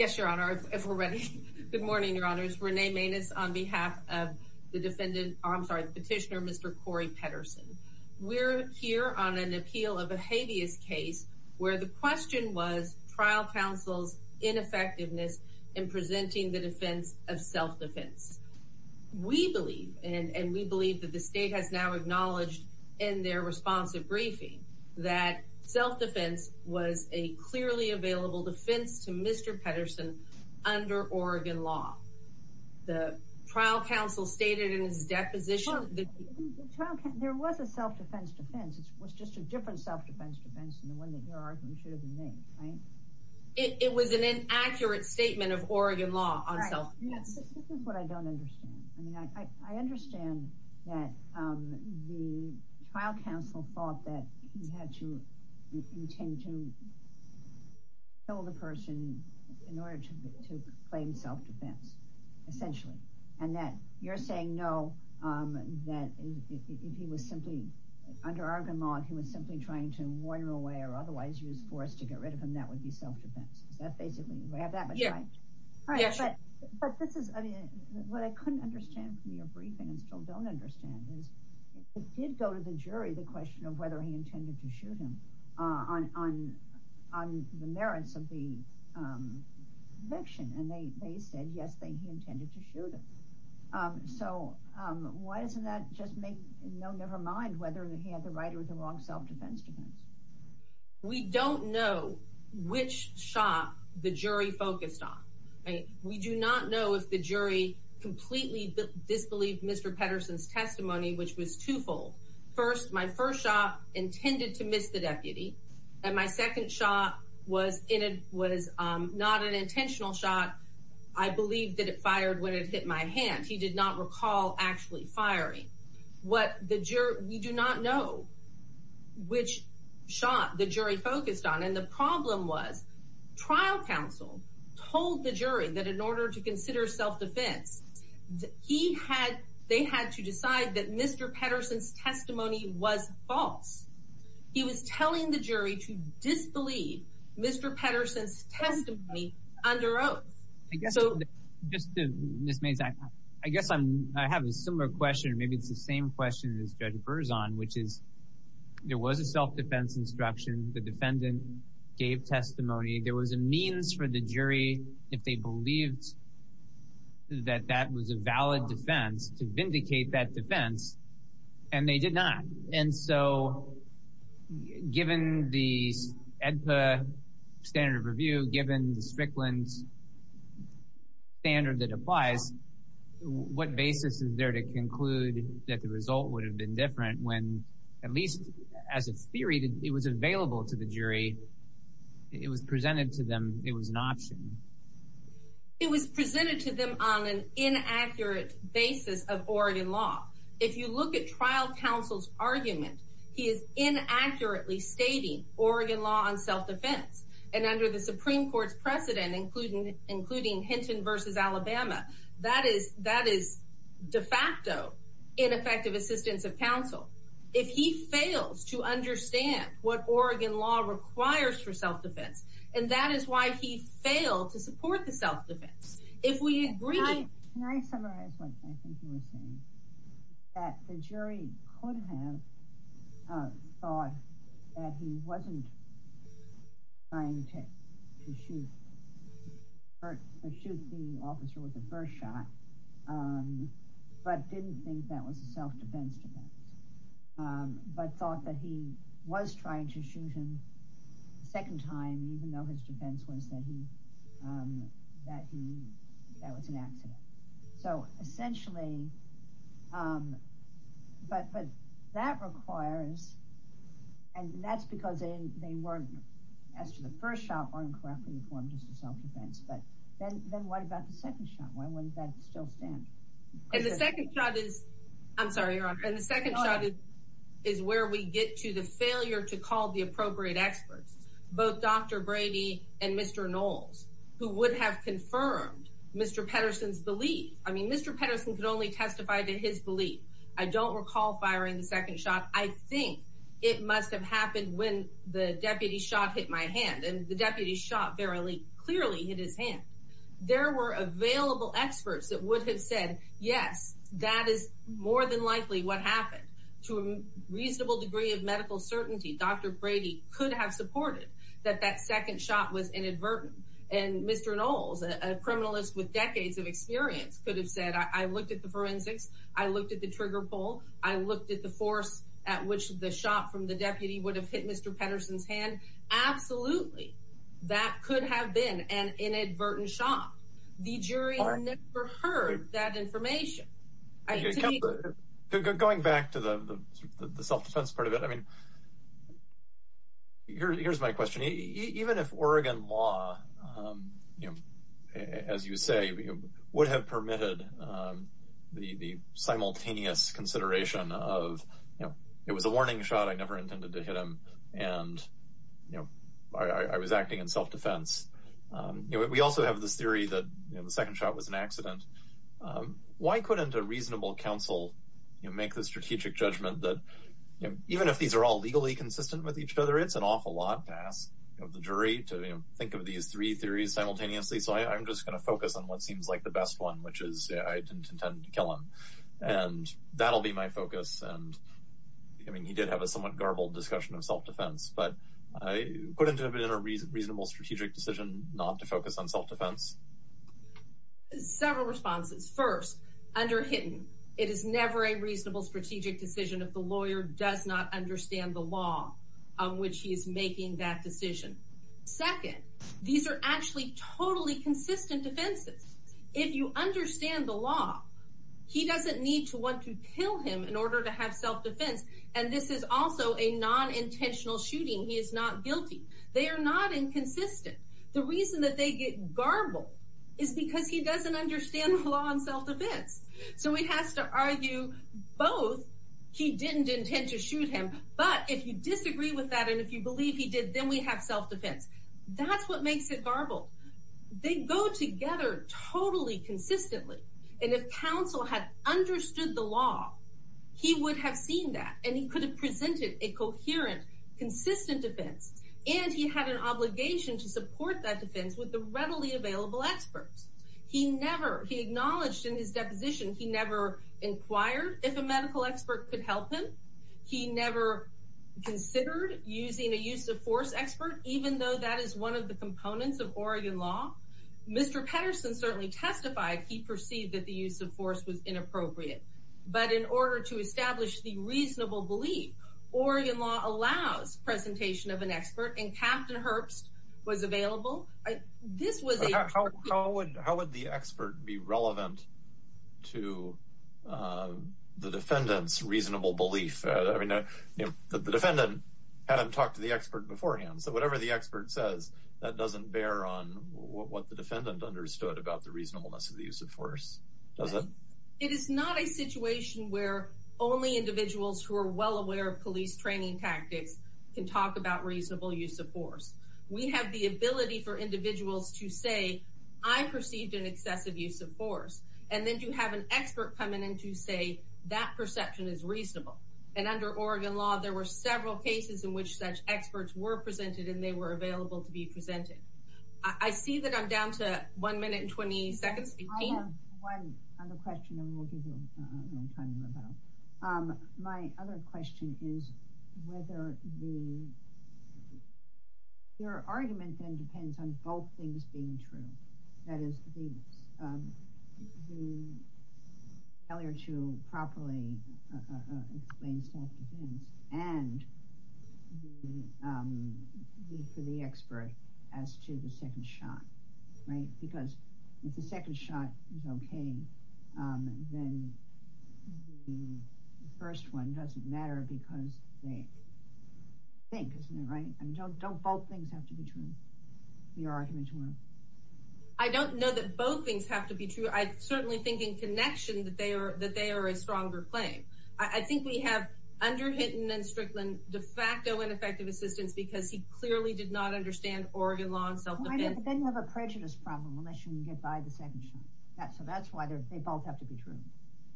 Yes, Your Honor, if we're ready. Good morning, Your Honors. Renee Maness on behalf of the petitioner, Mr. Kory Pedersen. We're here on an appeal of a habeas case where the question was trial counsel's ineffectiveness in presenting the defense of self-defense. We believe, and we believe that the state has now acknowledged in their responsive briefing that self-defense was a clearly available defense to Mr. Pedersen under Oregon law. The trial counsel stated in his deposition that- Well, there was a self-defense defense. It was just a different self-defense defense than the one that your argument should have been made, right? It was an inaccurate statement of Oregon law on self-defense. Right, this is what I don't understand. I mean, I understand that the trial counsel thought that he had to intend to kill the person in order to claim self-defense, essentially, and that you're saying no, that if he was simply, under Oregon law, if he was simply trying to wander away or otherwise use force to get rid of him, that would be self-defense. Is that basically, do I have that much right? All right, but this is, I mean, what I couldn't understand from your briefing and still don't understand is it did go to the jury, the question of whether he intended to shoot him on the merits of the conviction, and they said, yes, they, he intended to shoot him. So why doesn't that just make, no, nevermind, whether he had the right or the wrong self-defense defense? We don't know which shot the jury focused on, right? We do not know if the jury completely disbelieved Mr. Petterson's testimony, which was twofold. First, my first shot intended to miss the deputy, and my second shot was not an intentional shot. I believe that it fired when it hit my hand. He did not recall actually firing. What the jury, we do not know which shot the jury focused on and the problem was, trial counsel told the jury that in order to consider self-defense, he had, they had to decide that Mr. Petterson's testimony was false. He was telling the jury to disbelieve Mr. Petterson's testimony under oath. I guess, just to, Ms. Mays, I guess I'm, I have a similar question, maybe it's the same question as Judge Berzon, which is there was a self-defense instruction. The defendant gave testimony. There was a means for the jury, if they believed that that was a valid defense, to vindicate that defense, and they did not. And so given the EDPA standard of review, given the Strickland standard that applies, what basis is there to conclude that the result would have been different if the jury, it was presented to them, it was an option? It was presented to them on an inaccurate basis of Oregon law. If you look at trial counsel's argument, he is inaccurately stating Oregon law on self-defense and under the Supreme Court's precedent, including Hinton versus Alabama, that is de facto ineffective assistance of counsel. If he fails to understand what Oregon law requires for self-defense, and that is why he failed to support the self-defense. If we agree to- Can I summarize what I think you were saying? That the jury could have thought that he wasn't trying to shoot the officer with a first shot, but didn't think that was a self-defense defense, but thought that he was trying to shoot him a second time, even though his defense was that he, that was an accident. So essentially, but that requires, and that's because they weren't, as to the first shot, weren't correctly informed as to self-defense, but then what about the second shot? Why wouldn't that still stand? And the second shot is, I'm sorry, Your Honor, and the second shot is where we get to the failure to call the appropriate experts, both Dr. Brady and Mr. Knowles, who would have confirmed Mr. Petterson's belief. I mean, Mr. Petterson could only testify to his belief. I don't recall firing the second shot. I think it must have happened when the deputy's shot hit my hand, and the deputy's shot clearly hit his hand. There were available experts that would have said, yes, that is more than likely what happened. To a reasonable degree of medical certainty, Dr. Brady could have supported that that second shot was inadvertent, and Mr. Knowles, a criminalist with decades of experience, could have said, I looked at the forensics, I looked at the trigger pull, I looked at the force at which the shot from the deputy would have hit Mr. Petterson's hand. Absolutely, that could have been an inadvertent shot. The jury never heard that information. Going back to the self-defense part of it, I mean, here's my question. Even if Oregon law, as you say, would have permitted the simultaneous consideration of, it was a warning shot, I never intended to hit him, and I was acting in self-defense. We also have this theory that the second shot was an accident. Why couldn't a reasonable counsel make the strategic judgment that, even if these are all legally consistent with each other, it's an awful lot to ask of the jury to think of these three theories simultaneously, so I'm just gonna focus on what seems like the best one, which is, I didn't intend to kill him. And that'll be my focus. And I mean, he did have a somewhat garbled discussion of self-defense, but couldn't it have been a reasonable strategic decision not to focus on self-defense? Several responses. First, under Hitton, it is never a reasonable strategic decision if the lawyer does not understand the law on which he is making that decision. Second, these are actually totally consistent defenses. If you understand the law, he doesn't need to want to kill him in order to have self-defense, and this is also a non-intentional shooting. He is not guilty. They are not inconsistent. The reason that they get garbled is because he doesn't understand the law on self-defense. So he has to argue both, he didn't intend to shoot him, but if you disagree with that and if you believe he did, then we have self-defense. That's what makes it garbled. They go together totally consistently. And if counsel had understood the law, he would have seen that, and he could have presented a coherent, consistent defense, and he had an obligation to support that defense with the readily available experts. He acknowledged in his deposition he never inquired if a medical expert could help him. He never considered using a use-of-force expert, even though that is one of the components of Oregon law. Mr. Petterson certainly testified he perceived that the use-of-force was inappropriate, but in order to establish the reasonable belief, Oregon law allows presentation of an expert, and Captain Herbst was available. This was a- How would the expert be relevant to the defendant's reasonable belief? I mean, the defendant had him talk to the expert beforehand, so whatever the expert says, that doesn't bear on what the defendant understood about the reasonableness of the use-of-force, does it? It is not a situation where only individuals who are well aware of police training tactics can talk about reasonable use-of-force. We have the ability for individuals to say, I perceived an excessive use-of-force, and then to have an expert come in and to say that perception is reasonable, and under Oregon law, there were several cases in which such experts were presented, and they were available to be presented. I see that I'm down to one minute and 20 seconds, 15? One other question, and we'll give you a little time to go. My other question is whether the, your argument then depends on both things being true, that is, the failure to properly explain self-defense, and the need for the expert as to the second shot, right? Because if the second shot is okay, then the first one doesn't matter because they think, isn't it, right? And don't both things have to be true, your argument you want to? I don't know that both things have to be true. I certainly think in connection that they are a stronger claim. I think we have under Hinton and Strickland de facto ineffective assistance because he clearly did not understand Oregon law and self-defense. They didn't have a prejudice problem unless you can get by the second shot. So that's why they both have to be true.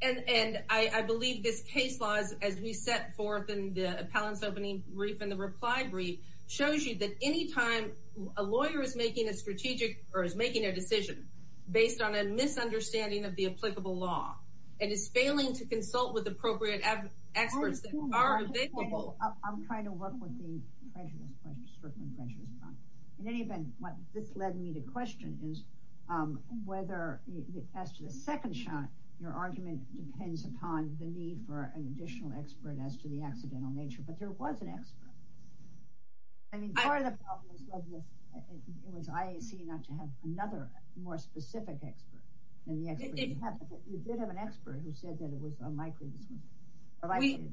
And I believe this case laws, as we set forth in the appellants opening brief and the reply brief, shows you that any time a lawyer is making a strategic or is making a decision based on a misunderstanding of the applicable law, and is failing to consult with appropriate experts that are available. I'm trying to work with the prejudice, Strickland prejudice. In any event, what this led me to question is whether as to the second shot, your argument depends upon the need for an additional expert as to the accidental nature, but there was an expert. I mean, part of the problem was IAC not to have another more specific expert than the expert you have. You did have an expert who said that it was unlikely. Or likely.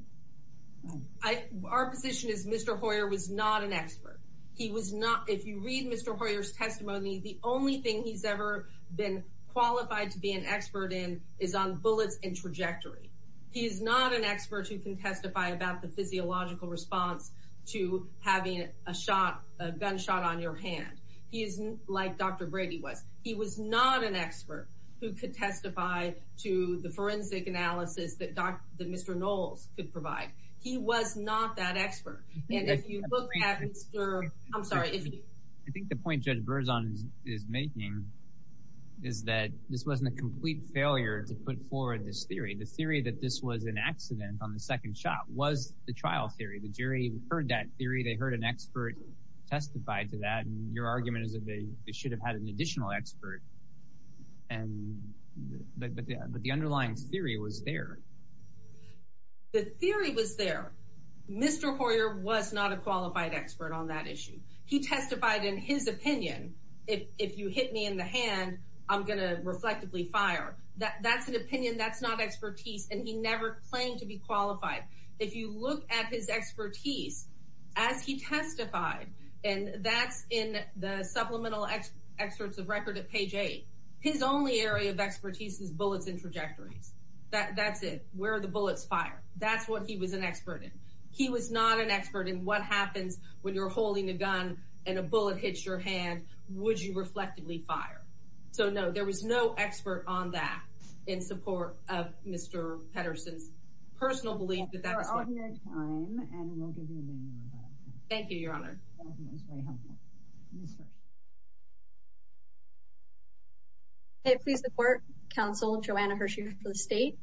Our position is Mr. Hoyer was not an expert. He was not. If you read Mr. Hoyer's testimony, the only thing he's ever been qualified to be an expert in is on bullets and trajectory. He is not an expert who can testify about the physiological response to having a shot, a gunshot on your hand. He isn't like Dr. Brady was. He was not an expert who could testify to the forensic analysis that Mr. Knowles could provide. He was not that expert. And if you look at Mr. I'm sorry, if you. I think the point Judge Berzon is making is that this wasn't a complete failure to put forward this theory. The theory that this was an accident on the second shot was the trial theory. The jury heard that theory. They heard an expert testify to that. And your argument is that they should have had an additional expert. But the underlying theory was there. The theory was there. Mr. Hoyer was not a qualified expert on that issue. He testified in his opinion. If you hit me in the hand, I'm gonna reflectively fire. That's an opinion, that's not expertise, and he never claimed to be qualified. If you look at his expertise as he testified, and that's in the supplemental excerpts of record at page 10, his only area of expertise is bullets and trajectories. That's it. Where are the bullets fired? That's what he was an expert in. He was not an expert in what happens when you're holding a gun and a bullet hits your hand. Would you reflectively fire? So no, there was no expert on that in support of Mr. Petterson's personal belief that that was what- We're out of your time, and we'll give you a minute or so. Thank you, Your Honor. That was very helpful. Ms. Hersh. Hey, please support counsel Joanna Hersh for the state.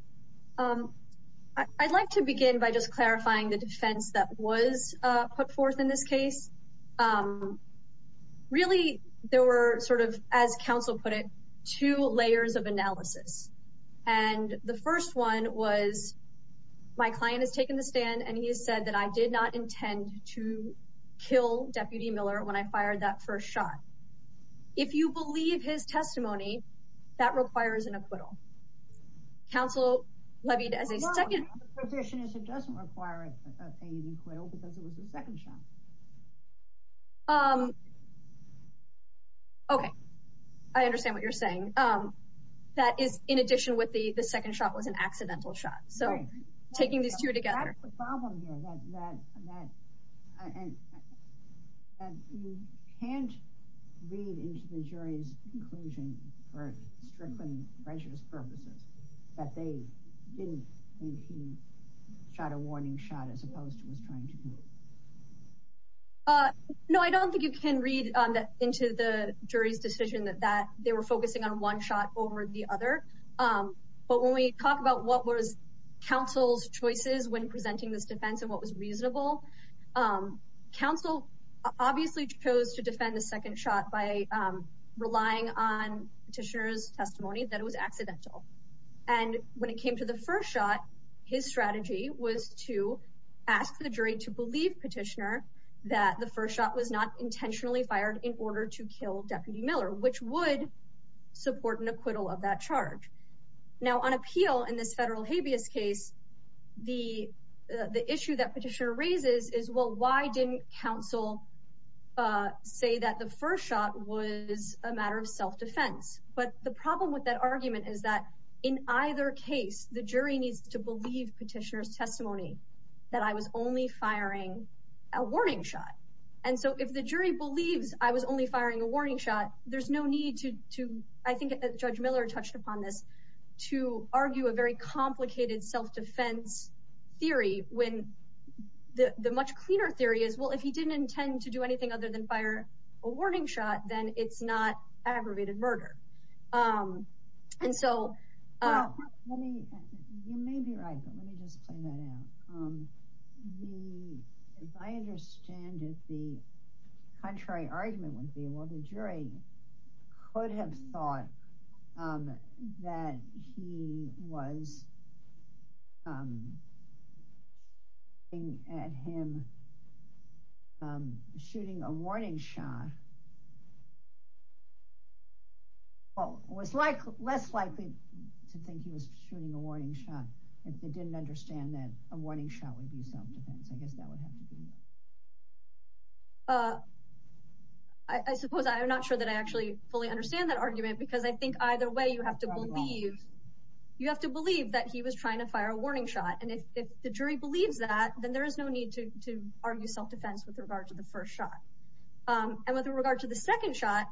I'd like to begin by just clarifying the defense that was put forth in this case. Really, there were sort of, as counsel put it, two layers of analysis. And the first one was my client has taken the stand, and he has said that I did not intend to kill Deputy Miller when I fired that first shot. If you believe his testimony, that requires an acquittal. Counsel levied as a second- No, the position is it doesn't require an acquittal because it was the second shot. Okay, I understand what you're saying. That is in addition with the second shot was an accidental shot. So taking these two together. That's the problem here, that you can't read into the jury's conclusion for strict and precious purposes that they didn't think he shot a warning shot as opposed to what he was trying to do. No, I don't think you can read into the jury's decision that they were focusing on one shot over the other. But when we talk about what was counsel's choices when presenting this defense and what was reasonable, counsel obviously chose to defend the second shot by relying on petitioner's testimony that it was accidental. And when it came to the first shot, his strategy was to ask the jury to believe petitioner that the first shot was not intentionally fired in order to kill Deputy Miller, which would support an acquittal of that charge. Now on appeal in this federal habeas case, the issue that petitioner raises is, well, why didn't counsel say that the first shot was a matter of self-defense? But the problem with that argument is that in either case, the jury needs to believe petitioner's testimony that I was only firing a warning shot. And so if the jury believes I was only firing a warning shot, there's no need to, I think Judge Miller touched upon this, to argue a very complicated self-defense theory when the much cleaner theory is, well, if he didn't intend to do anything other than fire a warning shot, then it's not aggravated murder. And so- You may be right, but let me just play that out. If I understand it, the contrary argument would be, well, the jury could have thought that he was looking at him shooting a warning shot. Well, it was less likely to think he was shooting a warning shot if they didn't understand that a warning shot would be self-defense. I guess that would have to be- I suppose I'm not sure that I actually fully understand that argument because I think either way, you have to believe, you have to believe that he was trying to fire a warning shot. And if the jury believes that, then there is no need to argue self-defense with regard to the first shot. And with regard to the second shot,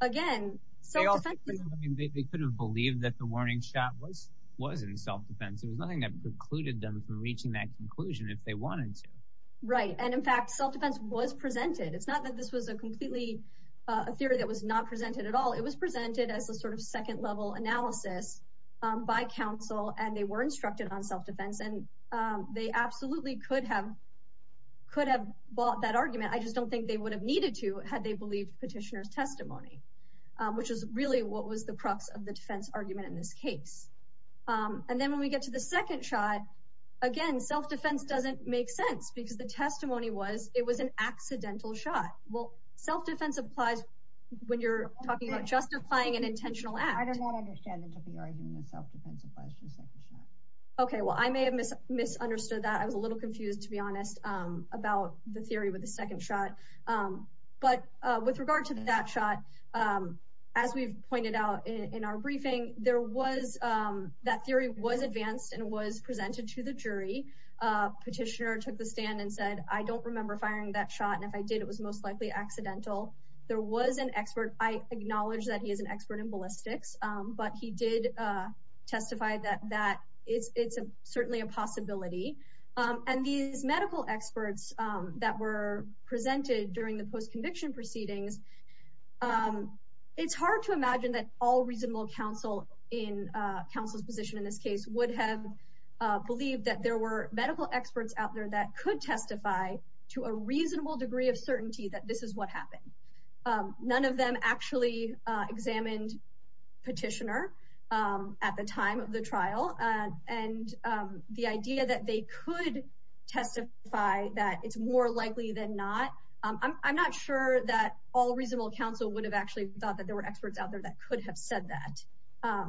again, self-defense- I mean, they could have believed that the warning shot was in self-defense. It was nothing that precluded them from reaching that conclusion if they wanted to. Right, and in fact, self-defense was presented. It's not that this was a completely, a theory that was not presented at all. It was presented as a sort of second level analysis by counsel and they were instructed on self-defense and they absolutely could have bought that argument. I just don't think they would have needed to had they believed petitioner's testimony, which is really what was the crux of the defense argument in this case. And then when we get to the second shot, again, self-defense doesn't make sense because the testimony was it was an accidental shot. Well, self-defense applies when you're talking about justifying an intentional act. I do not understand that to be arguing that self-defense applies to the second shot. Okay, well, I may have misunderstood that. I was a little confused to be honest about the theory with the second shot. But with regard to that shot, as we've pointed out in our briefing, that theory was advanced and was presented to the jury. Petitioner took the stand and said, I don't remember firing that shot. And if I did, it was most likely accidental. There was an expert. I acknowledge that he is an expert in ballistics, but he did testify that it's certainly a possibility. And these medical experts that were presented during the post-conviction proceedings, it's hard to imagine that all reasonable counsel in counsel's position in this case would have believed that there were medical experts out there that could testify to a reasonable degree of certainty that this is what happened. None of them actually examined Petitioner at the time of the trial. And the idea that they could testify that it's more likely than not, I'm not sure that all reasonable counsel would have actually thought that there were experts out there that could have said that.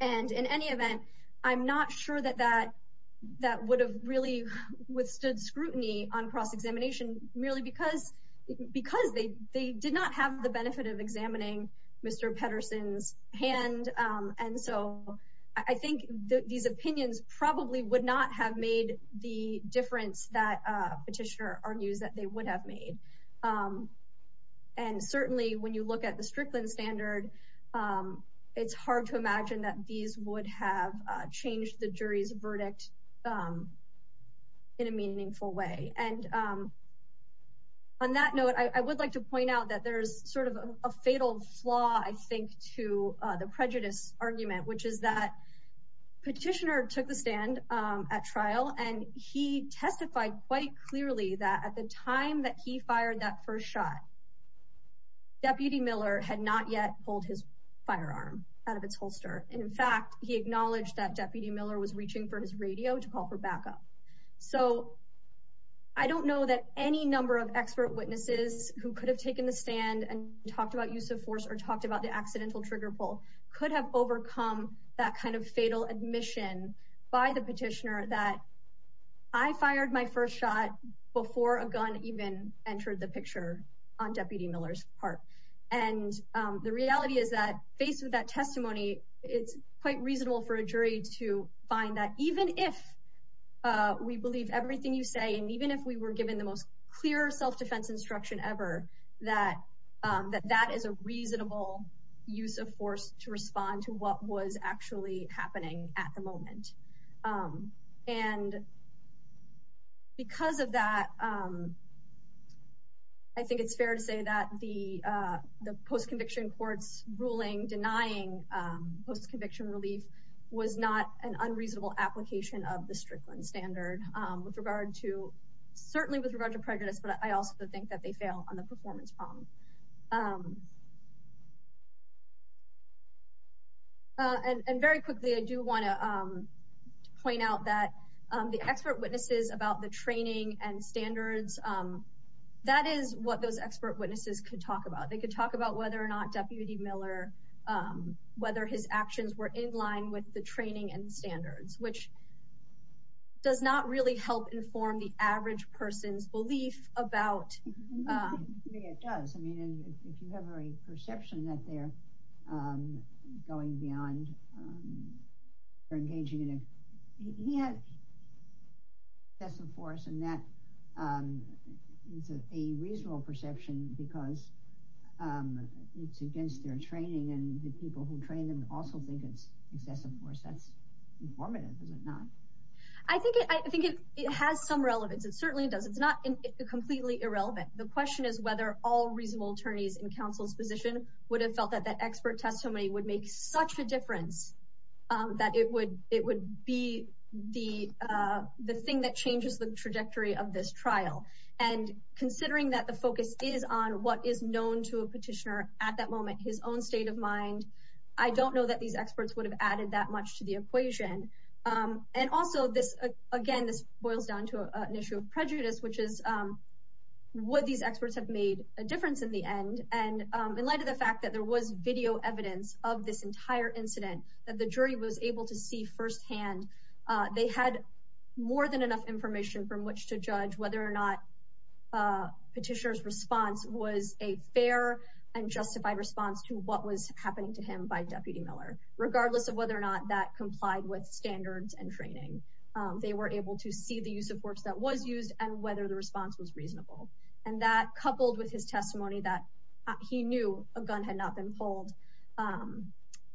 And in any event, I'm not sure that that would have really withstood scrutiny on cross-examination merely because they did not have the benefit of examining Mr. Petterson's hand. And so I think that these opinions probably would not have made the difference that Petitioner argues that they would have made. And certainly when you look at the Strickland standard, it's hard to imagine that these would have changed the jury's verdict in a meaningful way. And on that note, I would like to point out that there's sort of a fatal flaw, I think, to the prejudice argument, which is that Petitioner took the stand at trial and he testified quite clearly that at the time that he fired that first shot, Deputy Miller had not yet pulled his firearm out of its holster. And in fact, he acknowledged that Deputy Miller was reaching for his radio to call for backup. So I don't know that any number of expert witnesses who could have taken the stand and talked about use of force or talked about the accidental trigger pull could have overcome that kind of fatal admission by the Petitioner that I fired my first shot before a gun even entered the picture on Deputy Miller's part. And the reality is that faced with that testimony, it's quite reasonable for a jury to find that even if we believe everything you say, and even if we were given the most clear self-defense instruction ever, that that is a reasonable use of force to respond to what was actually happening at the moment. And because of that, I think it's fair to say that the post-conviction courts ruling denying post-conviction relief was not an unreasonable application of the Strickland standard with regard to, certainly with regard to prejudice, but I also think that they fail on the performance problem. And very quickly, I do wanna point out that the expert witnesses about the training and standards, that is what those expert witnesses could talk about. They could talk about whether or not Deputy Miller, whether his actions were in line with the training and standards, which does not really help inform the average person's belief about. Yeah, it does. I mean, if you have a perception that they're going beyond or engaging in, he has some force and that is a reasonable perception because it's against their training and the people who train them also think it's excessive force. That's informative, is it not? I think it has some relevance. It certainly does. It's not completely irrelevant. The question is whether all reasonable attorneys in counsel's position would have felt that that expert testimony would make such a difference that it would be the thing that changes the trajectory of this trial. And considering that the focus is on what is known to a petitioner at that moment, his own state of mind, I don't know that these experts would have added that much to the equation. And also this, again, this boils down to an issue of prejudice, which is what these experts have made a difference in the end. And in light of the fact that there was video evidence of this entire incident that the jury was able to see firsthand, they had more than enough information from which to judge whether or not petitioner's response was a fair and justified response to what was happening to him by Deputy Miller, regardless of whether or not that complied with standards and training. They were able to see the use of force that was used and whether the response was reasonable. And that coupled with his testimony that he knew a gun had not been pulled,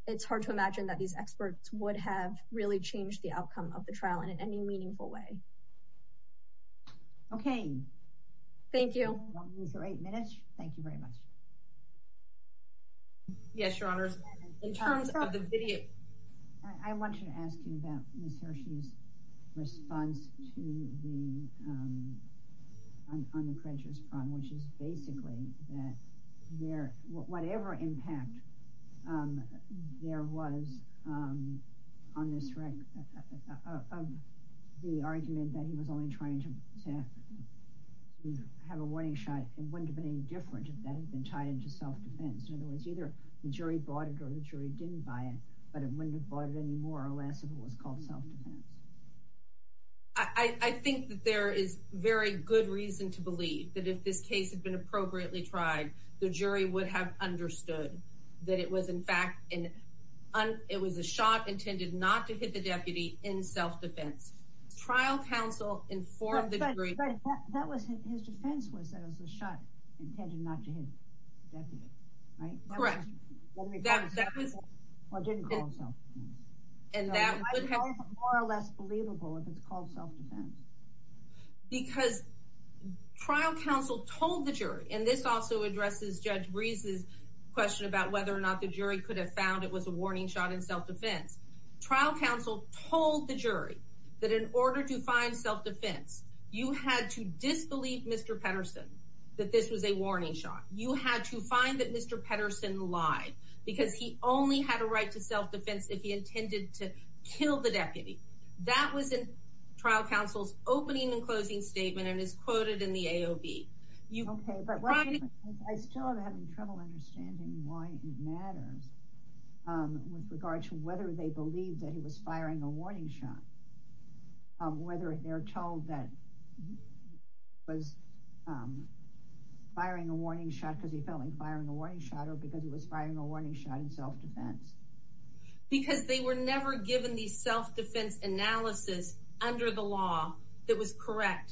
it's hard to imagine that these experts would have really changed the outcome of the trial in any meaningful way. Okay. Thank you. We have eight minutes. Thank you very much. Yes, your honors. In terms of the video, I want to ask you about Ms. Hershey's response to the, on the prejudice front, which is basically that there, whatever impact there was on this rec, of the argument that he was only trying to, to have a warning shot, it wouldn't have been any different if that had been tied into self-defense. In other words, either the jury bought it or the jury didn't buy it, but it wouldn't have bought it anymore or less if it was called self-defense. I think that there is very good reason to believe that if this case had been appropriately tried, the jury would have understood that it was in fact, and it was a shot intended not to hit the deputy in self-defense. Trial counsel informed the jury. That was his defense was that it was a shot intended not to hit the deputy, right? Correct. Well, it didn't call it self-defense. And that would have- It might have been more or less believable if it's called self-defense. Because trial counsel told the jury, and this also addresses Judge Breese's question about whether or not the jury could have found it was a warning shot in self-defense. Trial counsel told the jury that in order to find self-defense, you had to disbelieve Mr. Petterson that this was a warning shot. You had to find that Mr. Petterson lied because he only had a right to self-defense if he intended to kill the deputy. That was in trial counsel's opening and closing statement and is quoted in the AOB. Okay, but I still am having trouble understanding why it matters with regard to whether they believe that he was firing a warning shot, whether they're told that he was firing a warning shot because he felt like firing a warning shot or because he was firing a warning shot in self-defense. Because they were never given the self-defense analysis under the law that was correct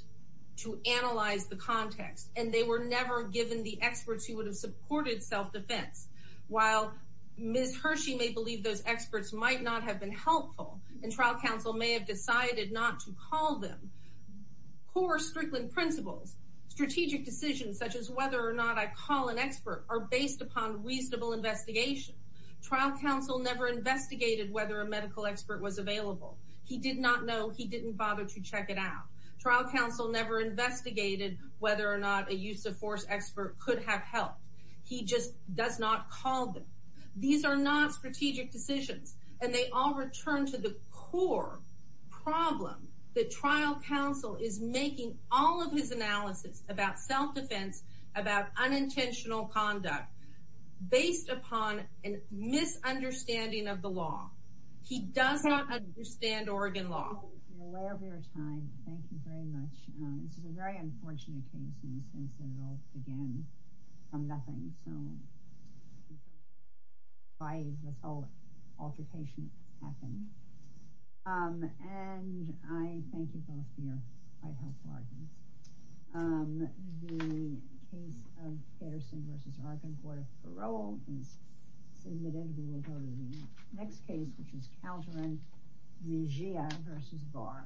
to analyze the context. And they were never given the experts who would have supported self-defense. While Ms. Hershey may believe those experts might not have been helpful and trial counsel may have decided not to call them, core Strickland principles, strategic decisions such as whether or not I call an expert are based upon reasonable investigation. Trial counsel never investigated whether a medical expert was available. He did not know, he didn't bother to check it out. Trial counsel never investigated whether or not a use of force expert could have helped. He just does not call them. These are not strategic decisions and they all return to the core problem that trial counsel is making all of his analysis about self-defense, about unintentional conduct based upon a misunderstanding of the law. He does not understand Oregon law. You're aware of your time, thank you very much. This is a very unfortunate case in the sense that it all began from nothing. So, by this whole altercation that's happened. And I thank you both for your quite helpful arguments. The case of Patterson versus Oregon Court of Parole is submitted, we will go to the next case which is Calderon Mejia versus Barr.